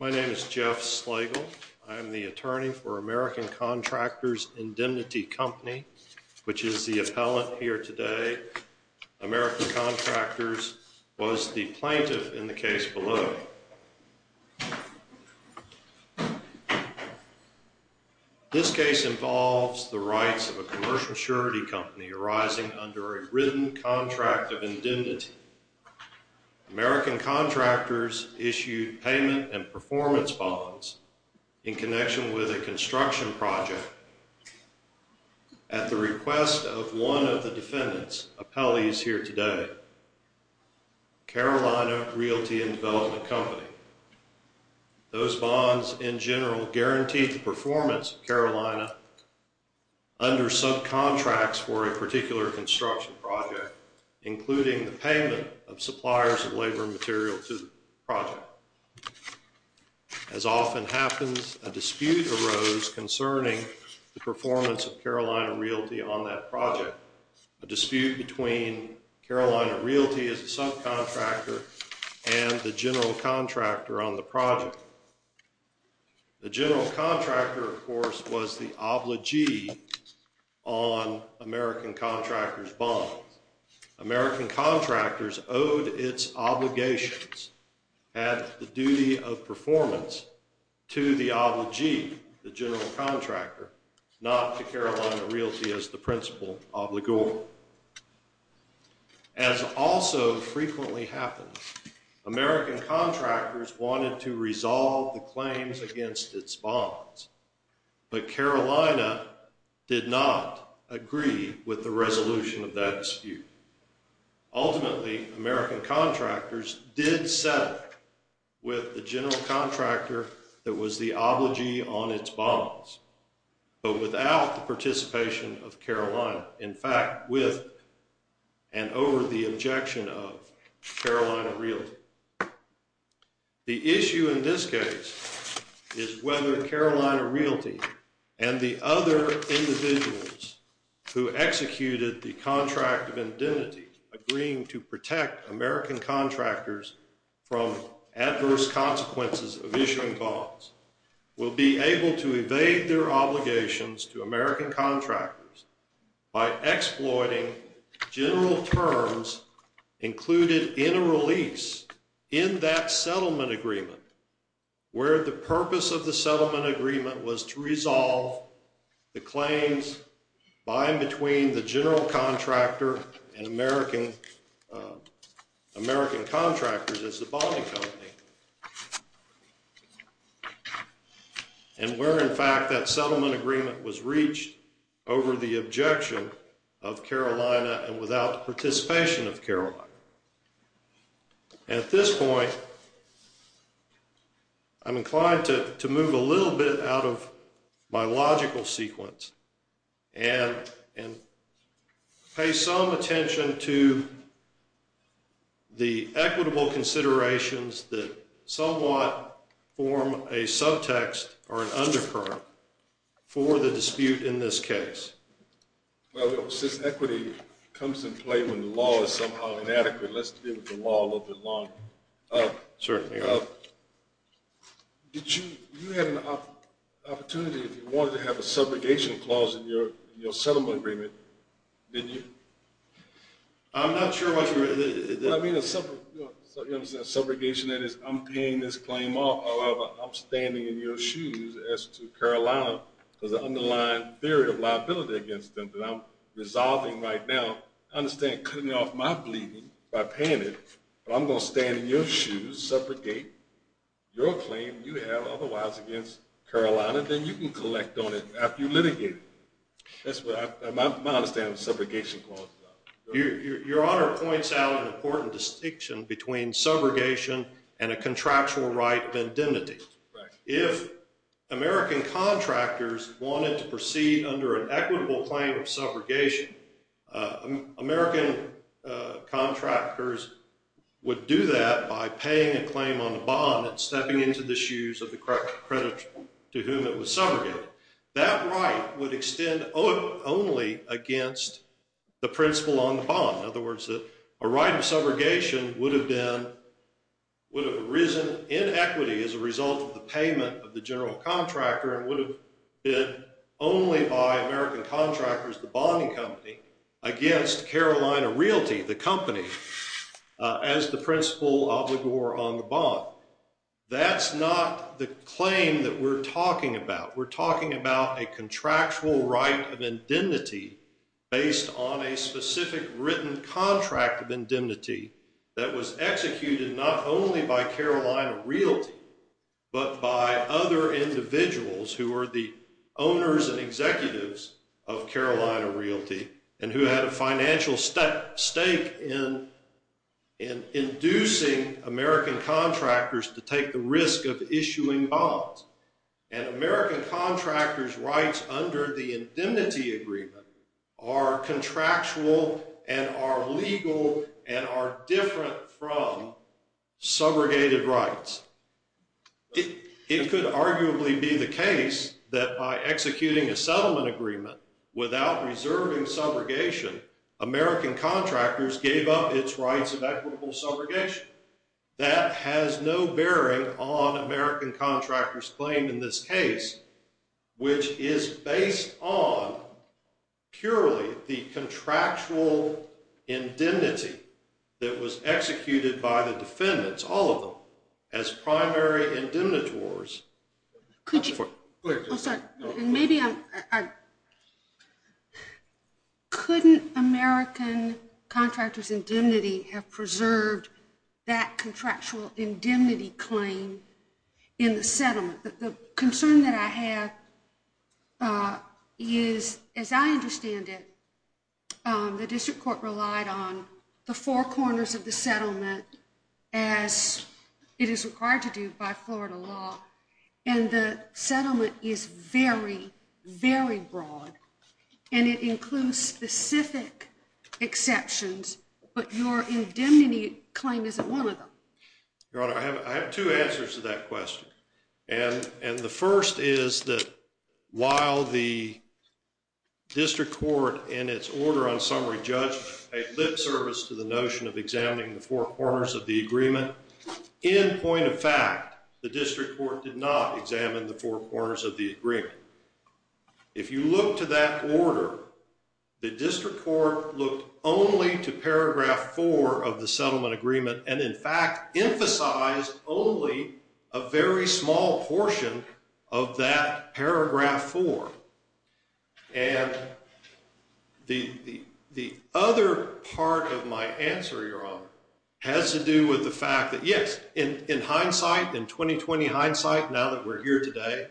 My name is Jeff Slegel. I am the attorney for American Contractors Indemnity Company, which is the appellant here today. American Contractors was the plaintiff in the case below. This case involves the rights of a commercial surety company arising under a written contract of indemnity. American Contractors issued payment and performance bonds in connection with a construction project at the request of one of the defendants, appellees here today, Carolina Realty and Development Company. Those bonds in general guaranteed the performance of payment of suppliers of labor material to the project. As often happens, a dispute arose concerning the performance of Carolina Realty on that project. A dispute between Carolina Realty as a subcontractor and the general contractor on the project. The general contractor, of course, was the obligee on American Contractors' bonds. American Contractors owed its obligations and the duty of performance to the obligee, the general contractor, not to Carolina Realty as the principal obligor. As also frequently happens, American Contractors wanted to resolve the claims against its bonds, but Carolina did not agree with the resolution of that dispute. Ultimately, American Contractors did settle with the general contractor that was the obligee on its bonds, but without the participation of Carolina. In fact, with and over the objection of Carolina Realty. The issue in this case is whether Carolina Realty and the other individuals who executed the contract of indemnity agreeing to protect American Contractors from adverse consequences of issuing bonds will be able to evade their obligations to American Contractors by exploiting general terms included in a release in that settlement agreement where the purpose of the settlement agreement was to resolve the claims by and between the general contractor and American American Contractors as the bonding company. And where, in fact, that settlement agreement was reached over the objection of Carolina and without participation of Carolina. At this point, I'm inclined to move a little bit out of my logical sequence and pay some attention to the equitable considerations that somewhat form a subtext or an undercurrent for the dispute in this case. Well, since equity comes into play when the law is somehow inadequate, let's deal with the law a little bit longer. Did you, you had an opportunity if you wanted to have a subrogation clause in your your settlement agreement, didn't you? I'm not sure what you're... I mean a subrogation that is I'm paying this claim off. I'm standing in your shoes as to Carolina because the underlying theory of liability against them that I'm resolving right now. I understand cutting off my bleeding by paying it, but I'm going to stand in your shoes, subrogate your claim you have otherwise against Carolina, then you can collect on it after you litigate it. That's what I, my understanding of the subrogation clause is. Your honor points out an important distinction between under an equitable claim of subrogation. American contractors would do that by paying a claim on the bond and stepping into the shoes of the creditor to whom it was subrogated. That right would extend only against the principal on the bond. In other words, that a right of subrogation would have been, would have arisen in equity as a result of the payment of the general contractor and would have been only by American contractors, the bonding company, against Carolina Realty, the company, as the principal obligor on the bond. That's not the claim that we're talking about. We're talking about a contractual right of indemnity based on a specific written contract of indemnity that was executed not only by Carolina Realty, but by other individuals who are the owners and executives of Carolina Realty and who had a financial stake in in inducing American contractors to take the risk of issuing bonds. And American contractors' rights under the indemnity agreement are contractual and are legal and are different from subrogated rights. It could arguably be the case that by executing a settlement agreement without reserving subrogation, American contractors gave up its rights of equitable subrogation. That has no bearing on American contractors' claim in this case, which is based on purely the contractual indemnity that was executed by the defendants, all of them, as primary indemnitores. Could you, oh sorry, and maybe I'm, I, couldn't American contractors' indemnity have preserved that contractual indemnity claim in the settlement? The concern that I have is, as I understand it, the district court relied on the four corners of the settlement as it is required to do by the district court. And it includes specific exceptions, but your indemnity claim isn't one of them. Your Honor, I have two answers to that question. And the first is that while the district court, in its order on summary, judged a lip service to the notion of examining the four corners of the agreement, in point of fact, the district court did not examine the four corners of the agreement. If you look to that order, the district court looked only to paragraph four of the settlement agreement and, in fact, emphasized only a very small portion of that paragraph four. And the other part of my answer, Your Honor, has to do with the fact that, yes, in hindsight, in 2020 hindsight, now that we're here today,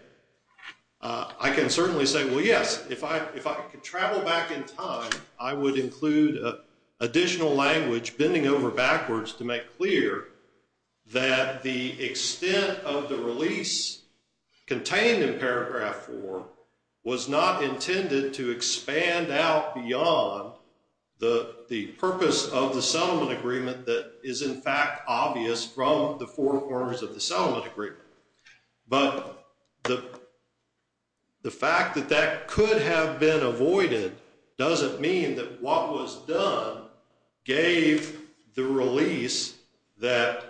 I can certainly say, well, yes, if I could travel back in time, I would include additional language bending over backwards to make clear that the extent of the release contained in paragraph four was not intended to expand out beyond the purpose of the settlement agreement that is, in fact, obvious from the four corners of the settlement agreement. But the fact that that could have been avoided doesn't mean that what was done gave the release that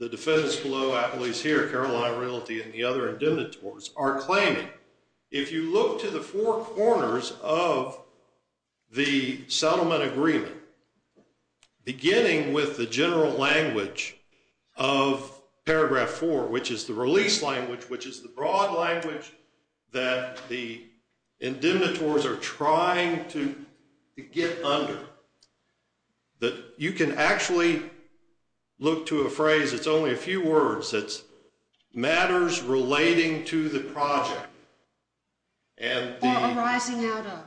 the defendants below, at least here, Caroline Realty and the other indemnitors are claiming. If you look to the four corners of the settlement agreement, beginning with the general language of paragraph four, which is the release language, which is the broad language that the indemnitors are trying to get under, that you can actually look to a phrase, it's only a few words, it's matters relating to the project. Or arising out of.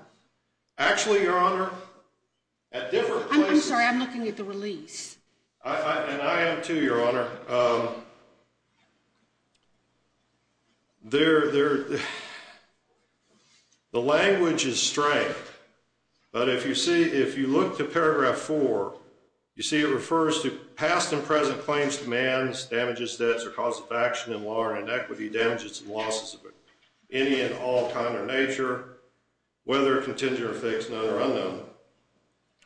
Actually, Your Honor, at different places. I'm sorry, I'm looking at the release. And I am too, Your Honor. There, the language is strange. But if you see, if you look to paragraph four, you see it refers to past and present claims, demands, damages, debts, or cause of action in law or inequity, damages and losses of any and all kind or nature, whether contingent or fixed, known or unknown,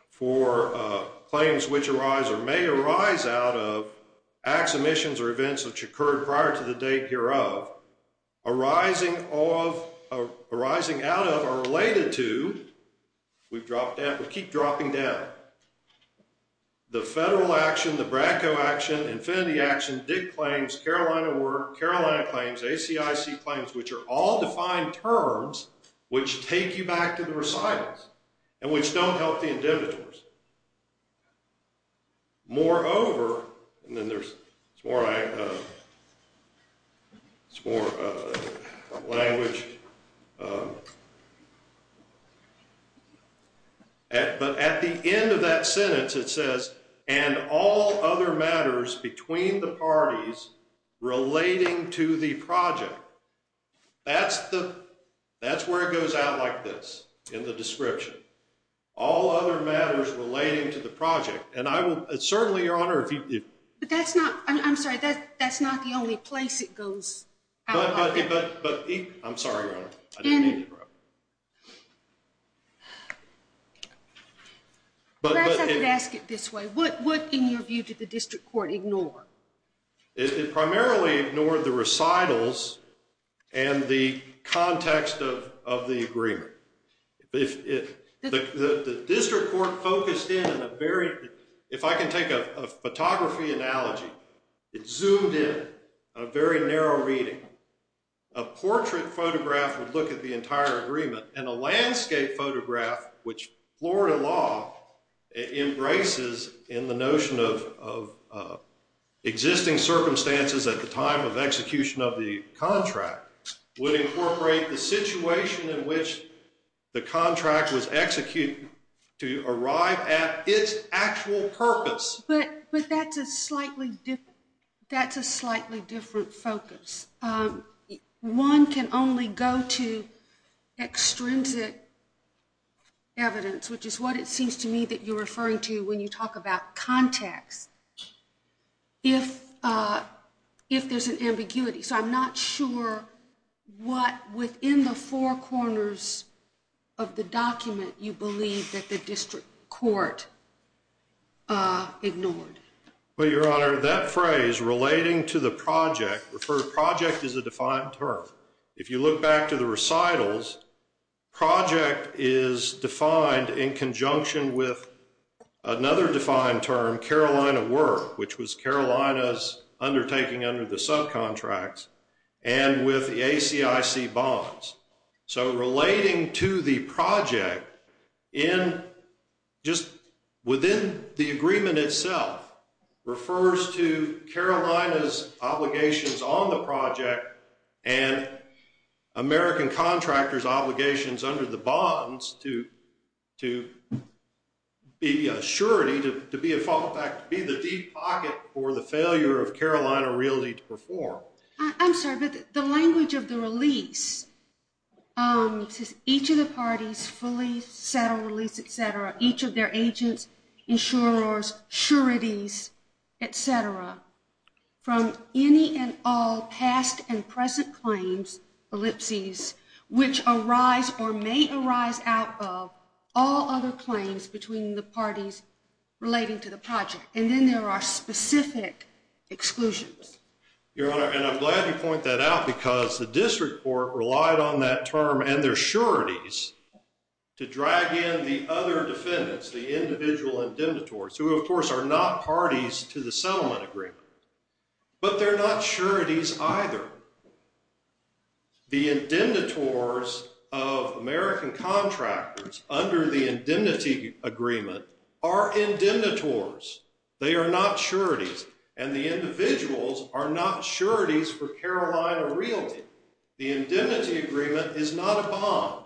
for claims which arise or may arise out of acts, omissions, or events which occurred prior to the date hereof, arising out of or related to, we've dropped down, we keep dropping down. The federal action, the Bracco action, Infinity action, Dick claims, Carolina work, Carolina claims, ACIC claims, which are all defined terms which take you back to the recitals, and which don't help the indemnitors. Moreover, and then there's more, it's more language. But at the end of that sentence it says, and all other matters between the parties relating to the project, that's the, that's where it goes out like this in the description. All other matters relating to the project. And I will, certainly, Your Honor, if you. But that's not, I'm sorry, that's not the only place it goes. But, I'm sorry, Your Honor, I didn't mean to interrupt. Perhaps I could ask it this way. What, in your view, did the district court ignore? It primarily ignored the recitals and the context of the agreement. The district court focused in on a very, if I can take a photography analogy, it zoomed in on a very narrow reading. A portrait photograph would look at the entire agreement, and a landscape photograph, which Florida law embraces in the notion of existing circumstances at the time of execution of the contract, would incorporate the situation in which the contract was executed to arrive at its actual purpose. But, but that's a slightly, that's a slightly different focus. One can only go to extrinsic evidence, which is what it seems to me that you're referring to when you talk about context, if, if there's an ambiguity. So, I'm not sure what within the four corners of the document you believe that the district court ignored. Well, Your Honor, that phrase, relating to the project, referred project is a defined term. If you look back to the recitals, project is defined in conjunction with another defined term, Carolina work, which was Carolina's undertaking under the subcontracts and with the ACIC bonds. So, relating to the project in, just within the agreement itself, refers to Carolina's obligations on the project and American contractors' obligations under the bonds to, to be a surety, to be a fallback, to be the deep pocket for the failure of Carolina Realty to each of the parties fully settle, release, et cetera, each of their agents, insurers, sureties, et cetera, from any and all past and present claims, ellipses, which arise or may arise out of all other claims between the parties relating to the project. And then there are specific exclusions. Your Honor, and I'm glad you point that out because the district court relied on that term and their sureties to drag in the other defendants, the individual indemnitores, who of course are not parties to the settlement agreement, but they're not sureties either. The indemnitores of American contractors under the indemnity agreement are indemnitores. They are not sureties. And the individuals are not sureties for Carolina Realty. The indemnity agreement is not a bond.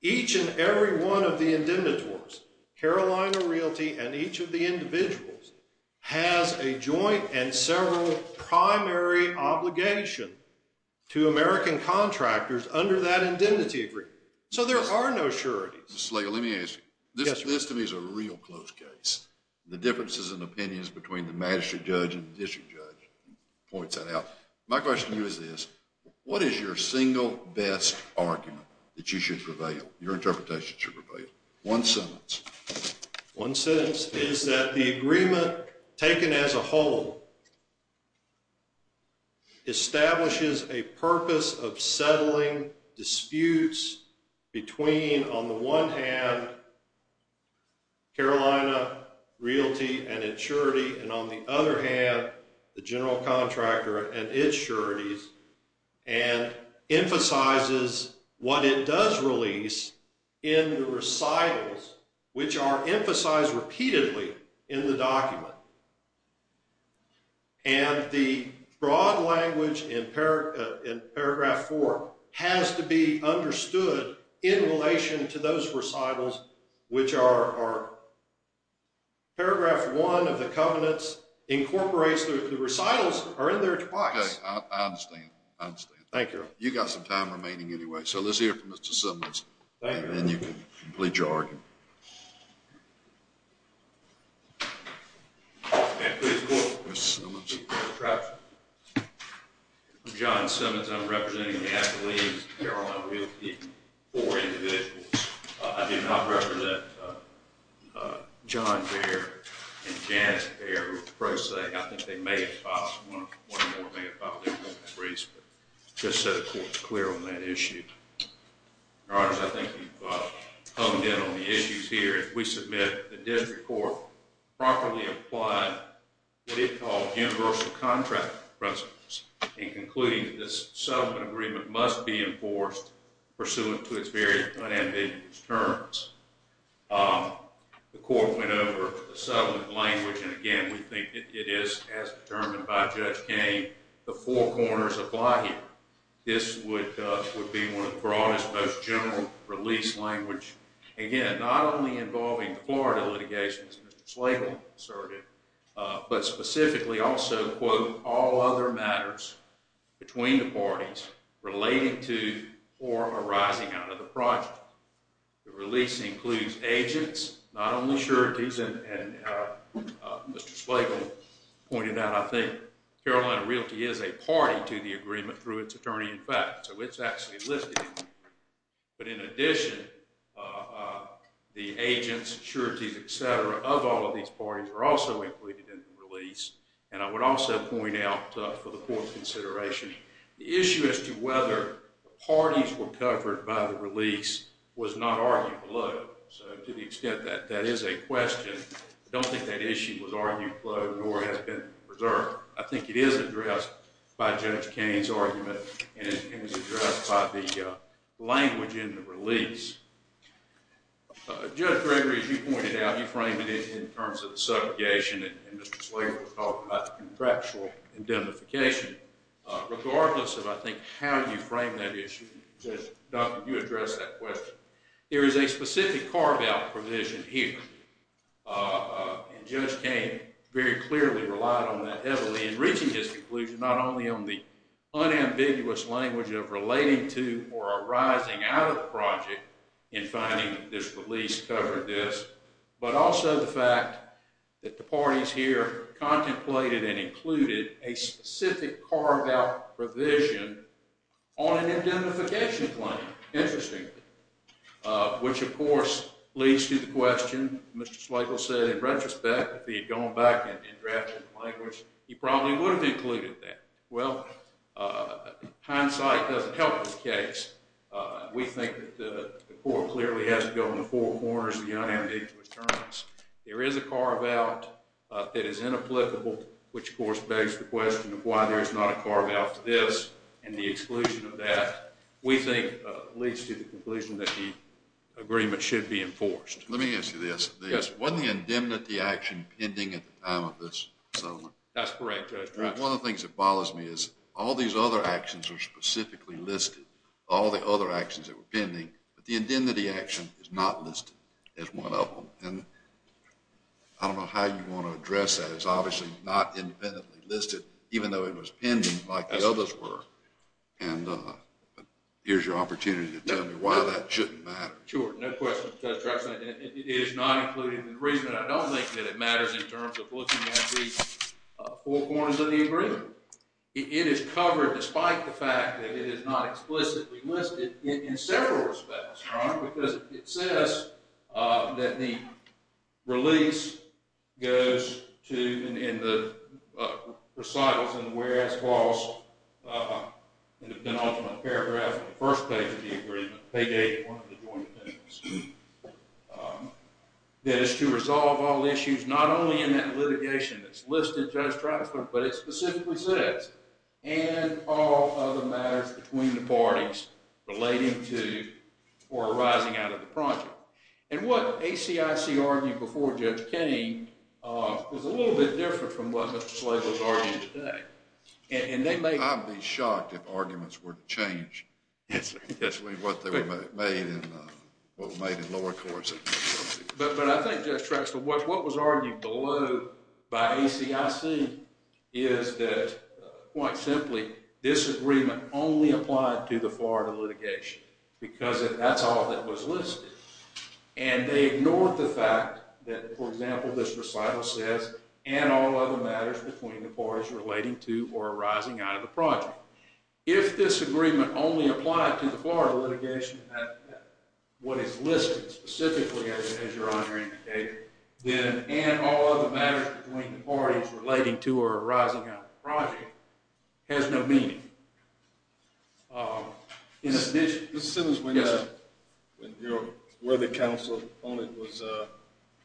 Each and every one of the indemnitores, Carolina Realty and each of the individuals, has a joint and several primary obligation to American contractors under that indemnity agreement. So, there are no sureties. Mr. Slago, let me ask you, this to me is a real close case. The differences in opinions between the magistrate judge and the district judge points that out. My question to you is this, what is your single best argument that you should prevail, your interpretation should prevail? One sentence. One sentence is that the agreement taken as a whole establishes a purpose of settling disputes between, on the one hand, Carolina Realty and its surety, and on the other hand, the general contractor and its sureties, and emphasizes what it does release in the recitals, which are emphasized repeatedly in the document. And the broad language in paragraph four has to be understood in relation to those recitals, which are paragraph one of the covenants incorporates the recitals are in there twice. Okay, I understand. I understand. Thank you. You got some time for questions. I'm John Simmons. I'm representing the affiliates of Carolina Realty for individuals. I do not represent John Baer and Janice Baer, who are pro se. I think they may have filed, one or more may have filed their briefs, but just so the court's clear on that issue. Your honors, I think you've honed in on the issues here. If we submit the district court properly apply what it calls universal contract principles in concluding that this settlement agreement must be enforced pursuant to its very unambiguous terms. The court went over the settlement language, and again, we think it is as determined by Judge Kane, the four corners apply here. This would be one of the broadest, most general release language. Again, not only involving the Florida litigation, as Mr. Slagle asserted, but specifically also, quote, all other matters between the parties relating to or arising out of the project. The release includes agents, not only sureties, and Mr. Slagle pointed out, I think Carolina Realty is a party to the agreement through its attorney in fact, so it's actually listed. But in addition, the agents, sureties, etc. of all of these parties are also included in the release, and I would also point out for the court's consideration, the issue as to whether the parties were covered by the release was not argued below. So to the extent that that is a question, I don't think that issue was argued below nor has been preserved. I think it is addressed by Judge Kane's argument, and it's addressed by the language in the release. Judge Gregory, as you pointed out, you framed it in terms of the subjugation, and Mr. Slagle was talking about the contractual indemnification. Regardless of, I think, how you frame that issue, Judge Duncan, you addressed that question. There is a specific carve-out provision here, and Judge Kane very clearly relied on that heavily in reaching his conclusion, not only on the unambiguous language of relating to or arising out of the project in finding this release covered this, but also the fact that the parties here contemplated and included a specific carve-out provision on an indemnification claim, interestingly, which of course leads to the question, Mr. Slagle said in retrospect, if he had gone back and drafted the language, he probably would have included that. Well, hindsight doesn't help this case. We think that the court clearly has to go in the four corners of the unambiguous terms. There is a carve-out that is inapplicable, which of course begs the question of why there is not a carve-out to this and the exclusion of that, we think, leads to the conclusion that the agreement should be enforced. Let me ask you this. Yes. Wasn't the indemnity action pending at the time of this settlement? That's correct, Judge. One of the things that bothers me is all these other actions are specifically listed, all the other actions that were pending, but the indemnity action is not listed as one of them, and I don't know how you want to address that. It's obviously not independently listed, even though it was pending like the others were, and here's your opportunity to tell me why that shouldn't matter. Sure, no question, Judge Drexler. It is not included in the agreement. I don't think that it matters in terms of looking at the four corners of the agreement. It is covered despite the fact that it is not explicitly listed in several respects, Your Honor, because it says that the release goes to, in the recitals and the whereas clause, in the penultimate paragraph of the first page of the agreement, page 81 of the Joint Appendix, that it's to resolve all issues, not only in that litigation that's listed, Judge Drexler, but it specifically says, and all other matters between the parties relating to or arising out of the project, and what ACIC argued before Judge Kenney was a little bit different from what Mr. Slago has argued today, and they may- I'd be shocked if arguments were to change what they were made in lower courts. But I think, Judge Drexler, what was argued below by ACIC is that, quite simply, this agreement only applied to the Florida litigation because that's all that was listed, and they ignored the fact that, for example, this recital says, and all other matters between the parties relating to or arising out of the project. If this agreement only applied to the Florida litigation, what is listed specifically, as Your Honor indicated, then, and all other matters between the parties relating to or arising out of the project, has no meaning. In addition- This sentence, when your worthy counsel opponent was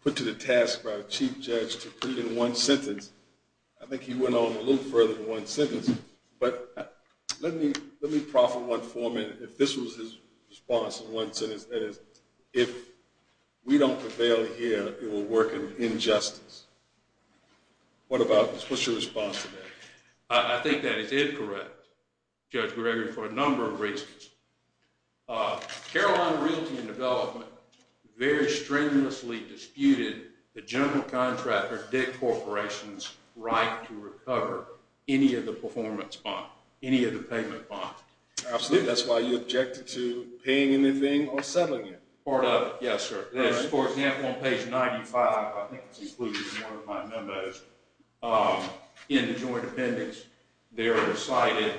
put to the task by the Chief Judge to put it in one sentence, I think he went on a little further than one sentence. But let me proffer one format. If this was his response in one sentence, that is, if we don't prevail here, it will work in injustice. What about this? What's your response to that? I think that is incorrect, Judge Gregory, for a number of reasons. Carolina Realty and Development very strenuously disputed the general contractor debt corporation's right to recover any of the performance bonds, any of the payment bonds. Absolutely. That's why you objected to paying anything or settling it. Yes, sir. For example, on page 95, I think it's included in one of my memos, in the joint appendix, there are cited a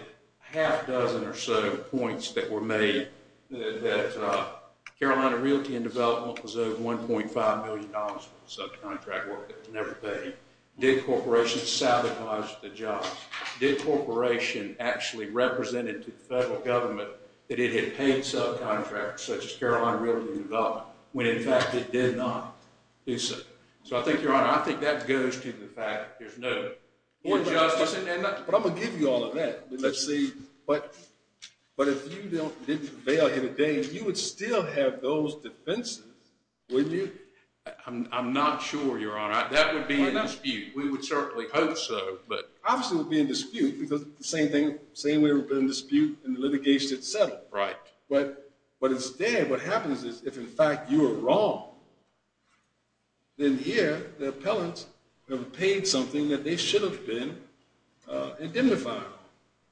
half dozen or so points that were made that Carolina Realty and Development was owed $1.5 million for the subcontract work that was done. But I'm going to give you all of that. But if you didn't prevail here today, you would still have those defenses, wouldn't you? I'm not sure, Your Honor. That would be in dispute. We would have settled. But instead, what happens is if, in fact, you were wrong, then here the appellants have paid something that they should have been indemnified.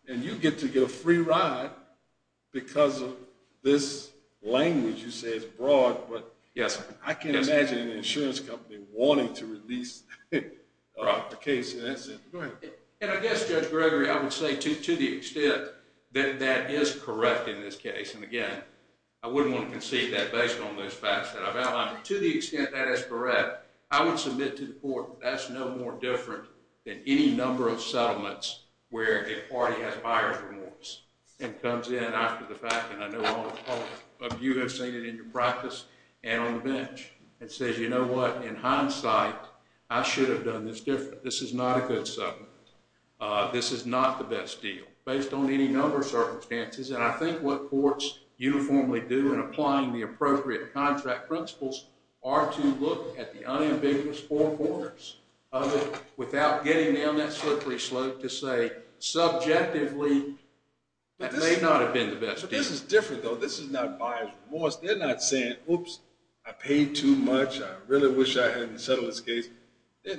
And you get to get a free ride because of this language. You say it's broad, but I can't imagine an insurance company wanting to release the case. And I guess, Judge Gregory, I would say to the extent that that is correct in this case, and again, I wouldn't want to concede that based on those facts that I've outlined, but to the extent that is correct, I would submit to the court that that's no more different than any number of settlements where a party has higher remorse and comes in after the fact. And I know all of you have seen it in your practice and on the bench and says, you know what? In hindsight, I should have done this different. This is not a good settlement. This is not the best deal based on any number of circumstances. And I think what courts uniformly do in applying the appropriate contract principles are to look at the unambiguous four corners of it without getting down that slippery slope to say subjectively that may not have been the best deal. But this is different, though. This is not biased remorse. They're not saying, oops, I paid too much. I really wish I hadn't settled this case.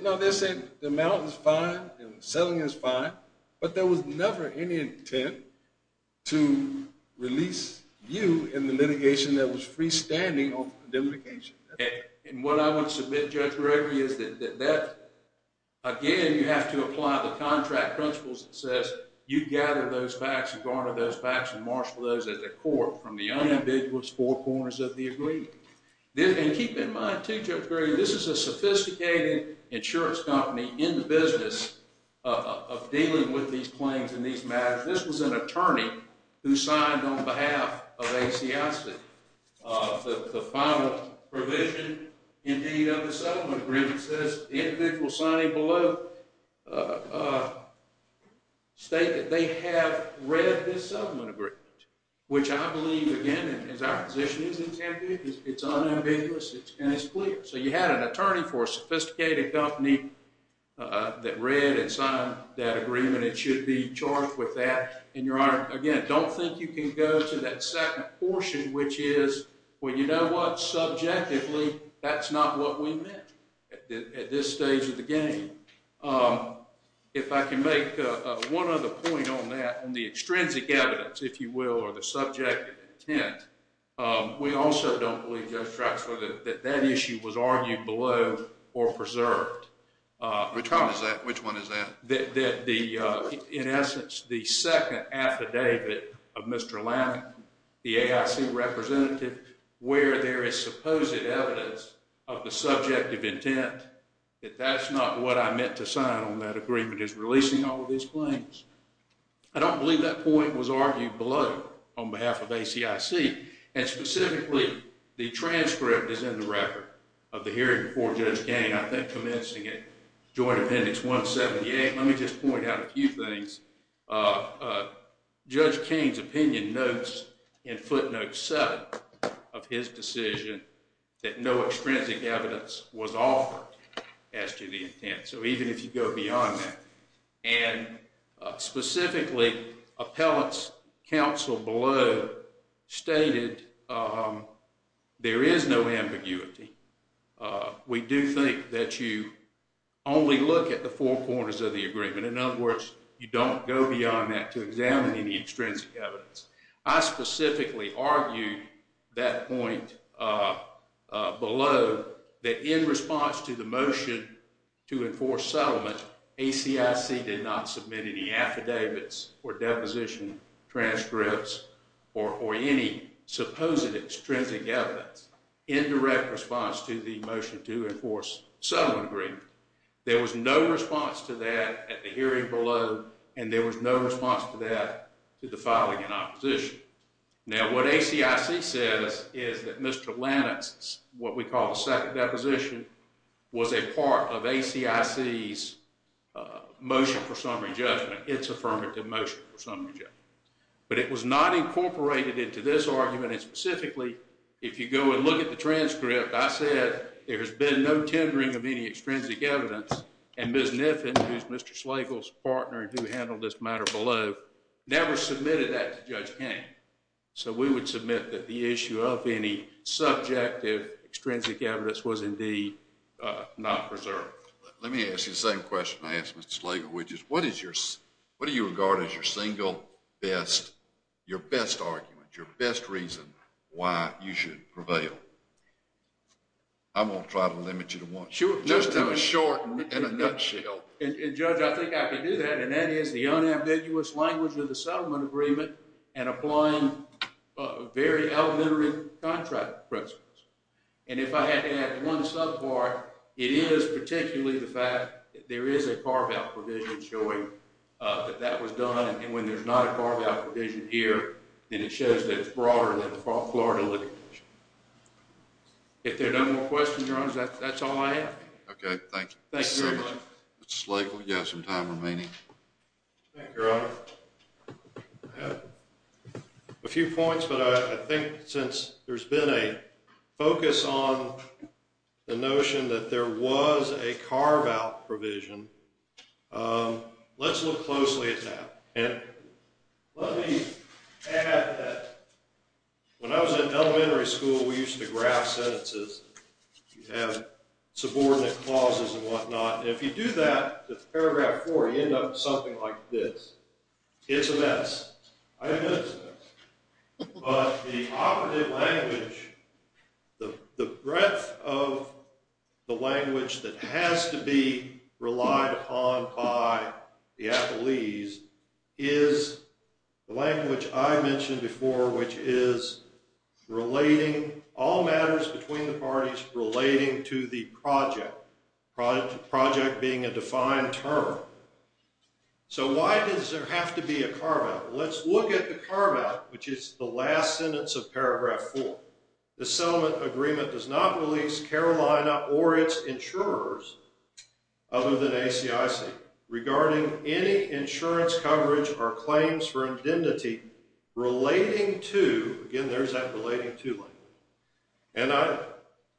No, they're saying the amount is fine and the settling is fine, but there was never any intent to release you in the litigation that was freestanding on the condemnation. And what I want to submit, Judge Gregory, is that again, you have to apply the contract principles that says you gather those facts and garner those facts and marshal those at the court from the unambiguous four corners of the agreement. And keep in mind too, Judge Gregory, this is a sophisticated insurance company in the business of dealing with these claims and these matters. This was an attorney who signed on behalf of ACIC the final provision, indeed, of the settlement agreement says the individual signing below state that they have read this settlement agreement, which I believe, again, as our and it's clear. So you had an attorney for a sophisticated company that read and signed that agreement. It should be charged with that. And your honor, again, don't think you can go to that second portion, which is, well, you know what, subjectively, that's not what we meant at this stage of the game. If I can make one other point on that extrinsic evidence, if you will, or the subject of intent, we also don't believe, Judge Drexler, that that issue was argued below or preserved. Which one is that? In essence, the second affidavit of Mr. Lannan, the AIC representative, where there is supposed evidence of the subject of intent, that that's not what I meant to sign on that agreement is releasing all of these claims. I don't believe that point was argued below on behalf of ACIC. And specifically, the transcript is in the record of the hearing before Judge Kane, I think, commencing at Joint Appendix 178. Let me just point out a few things. Judge Kane's opinion notes in footnote seven of his decision that no specifically appellate's counsel below stated there is no ambiguity. We do think that you only look at the four corners of the agreement. In other words, you don't go beyond that to examine any extrinsic evidence. I specifically argued that point below that in response to the affidavits or deposition transcripts or any supposed extrinsic evidence, indirect response to the motion to enforce settlement agreement. There was no response to that at the hearing below, and there was no response to that to the filing in opposition. Now, what ACIC says is that Mr. Lannan's, what we call the second deposition, was a part of ACIC's motion for disaffirmative motion for some reason. But it was not incorporated into this argument, and specifically, if you go and look at the transcript, I said there has been no tendering of any extrinsic evidence, and Ms. Kniffen, who's Mr. Slagle's partner who handled this matter below, never submitted that to Judge Kane. So, we would submit that the issue of any subjective extrinsic evidence was indeed not preserved. Let me ask you the same question I asked Mr. Slagle, which is, what do you regard as your single best, your best argument, your best reason why you should prevail? I'm going to try to limit you to one. Just have a short and a nutshell. And Judge, I think I can do that, and that is the unambiguous language of the settlement agreement and applying very elementary contract principles. And if I had to add one subpart, it is particularly the fact there is a carve-out provision showing that that was done, and when there's not a carve-out provision here, then it shows that it's broader than the Florida litigation. If there are no more questions, Your Honors, that's all I have. Okay, thank you. Thank you very much. Mr. Slagle, you have some time remaining. Thank you, Your Honor. I have a few points, but I think since there's been a focus on the notion that there was a carve-out provision, let's look closely at that. And let me add that when I was in elementary school, we used to graph sentences. You have subordinate clauses and whatnot, and if you do that, paragraph 4, you end up with something like this. It's a mess. I admit it's a mess. But the operative language, the breadth of the language that has to be relied upon by the athletes is the language I mentioned before, which is relating all matters between the parties relating to the project, project being a defined term. So why does there have to be a carve-out? Let's look at the carve-out, which is the last sentence of paragraph 4. The settlement agreement does not release Carolina or its insurers other than ACIC regarding any insurance coverage or claims for indemnity relating to, again, there's that relating to language. And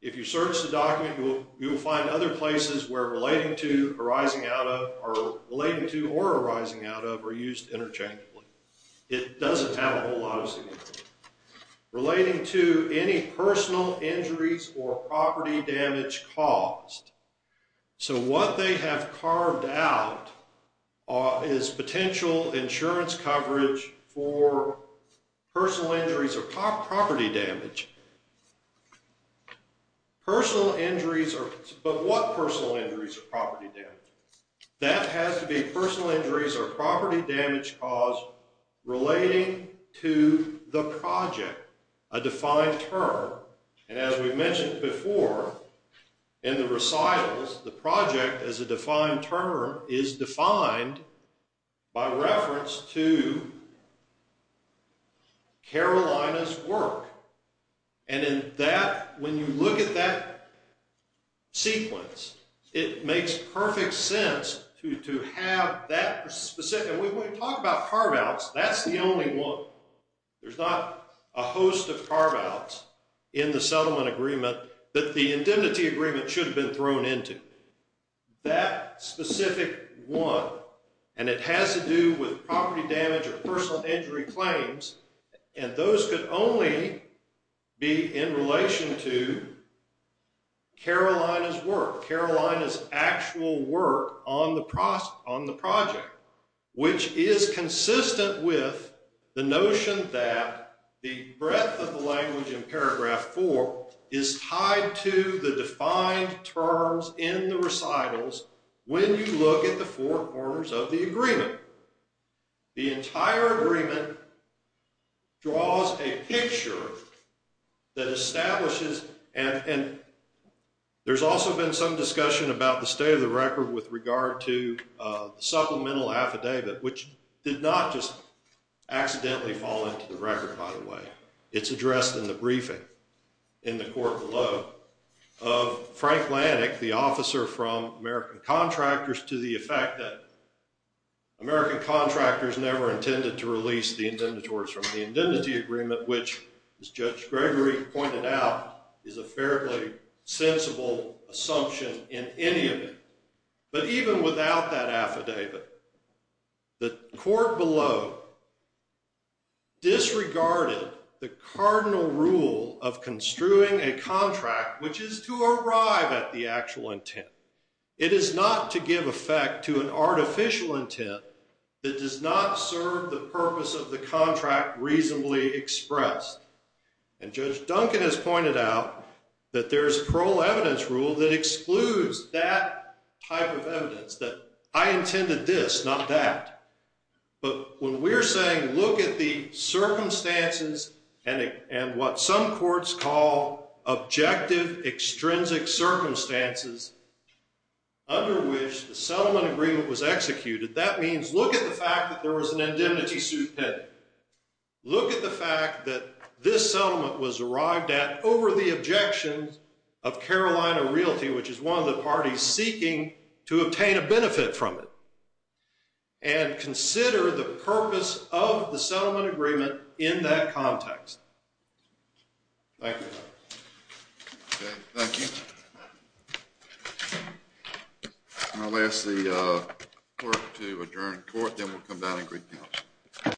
if you search the document, you will find other places where relating to, arising out of, or relating to or arising out of are used interchangeably. It doesn't have a whole lot of significance. Relating to any personal injuries or property damage caused. So what they have carved out is potential insurance coverage for personal injuries or property damage. Personal injuries, but what personal injuries or property damage? That has to be personal injuries or property damage caused relating to the project, a defined term. And as we mentioned before, in the recitals, the project as a defined term is defined by reference to Carolina's work. And in that, when you look at that sequence, it makes perfect sense to have that specific, and when we talk about carve-outs, that's the only one. There's not a host of carve-outs in the settlement agreement that the indemnity agreement should have been thrown into. That specific one, and it has to do with property damage or personal injury claims, and those could only be in relation to Carolina's work, Carolina's actual work on the project, which is consistent with the notion that the breadth of the language in paragraph four is tied to the defined terms in the recitals when you look at the four corners of the agreement. The entire agreement draws a picture that establishes, and there's also been some discussion about the state of the record with regard to supplemental affidavit, which did not just accidentally fall into the record, by the way. It's addressed in the briefing in the court below of Frank Lanik, the officer from American Contractors, to the effect that American Contractors never intended to release the indemnitories from the indemnity agreement, which, as Judge Gregory pointed out, is a fairly sensible assumption in any of it. But even without that affidavit, the court below disregarded the cardinal rule of construing a contract, which is to arrive at the actual intent. It is not to give effect to an artificial intent that does not serve the purpose of the contract reasonably expressed. And Judge Duncan has pointed out that there's a parole evidence rule that excludes that type of evidence, that I intended this, not that. But when we're saying look at the circumstances and what some courts call objective extrinsic circumstances under which the settlement agreement was executed, that means look at the fact that there was an indemnity suit pending. Look at the fact that this settlement was arrived at over the objections of Carolina Realty, which is one of the parties seeking to obtain a benefit from it, and consider the purpose of the settlement agreement in that context. Thank you. Okay, thank you. I'll ask the clerk to adjourn the court, then we'll come down and greet the counsel.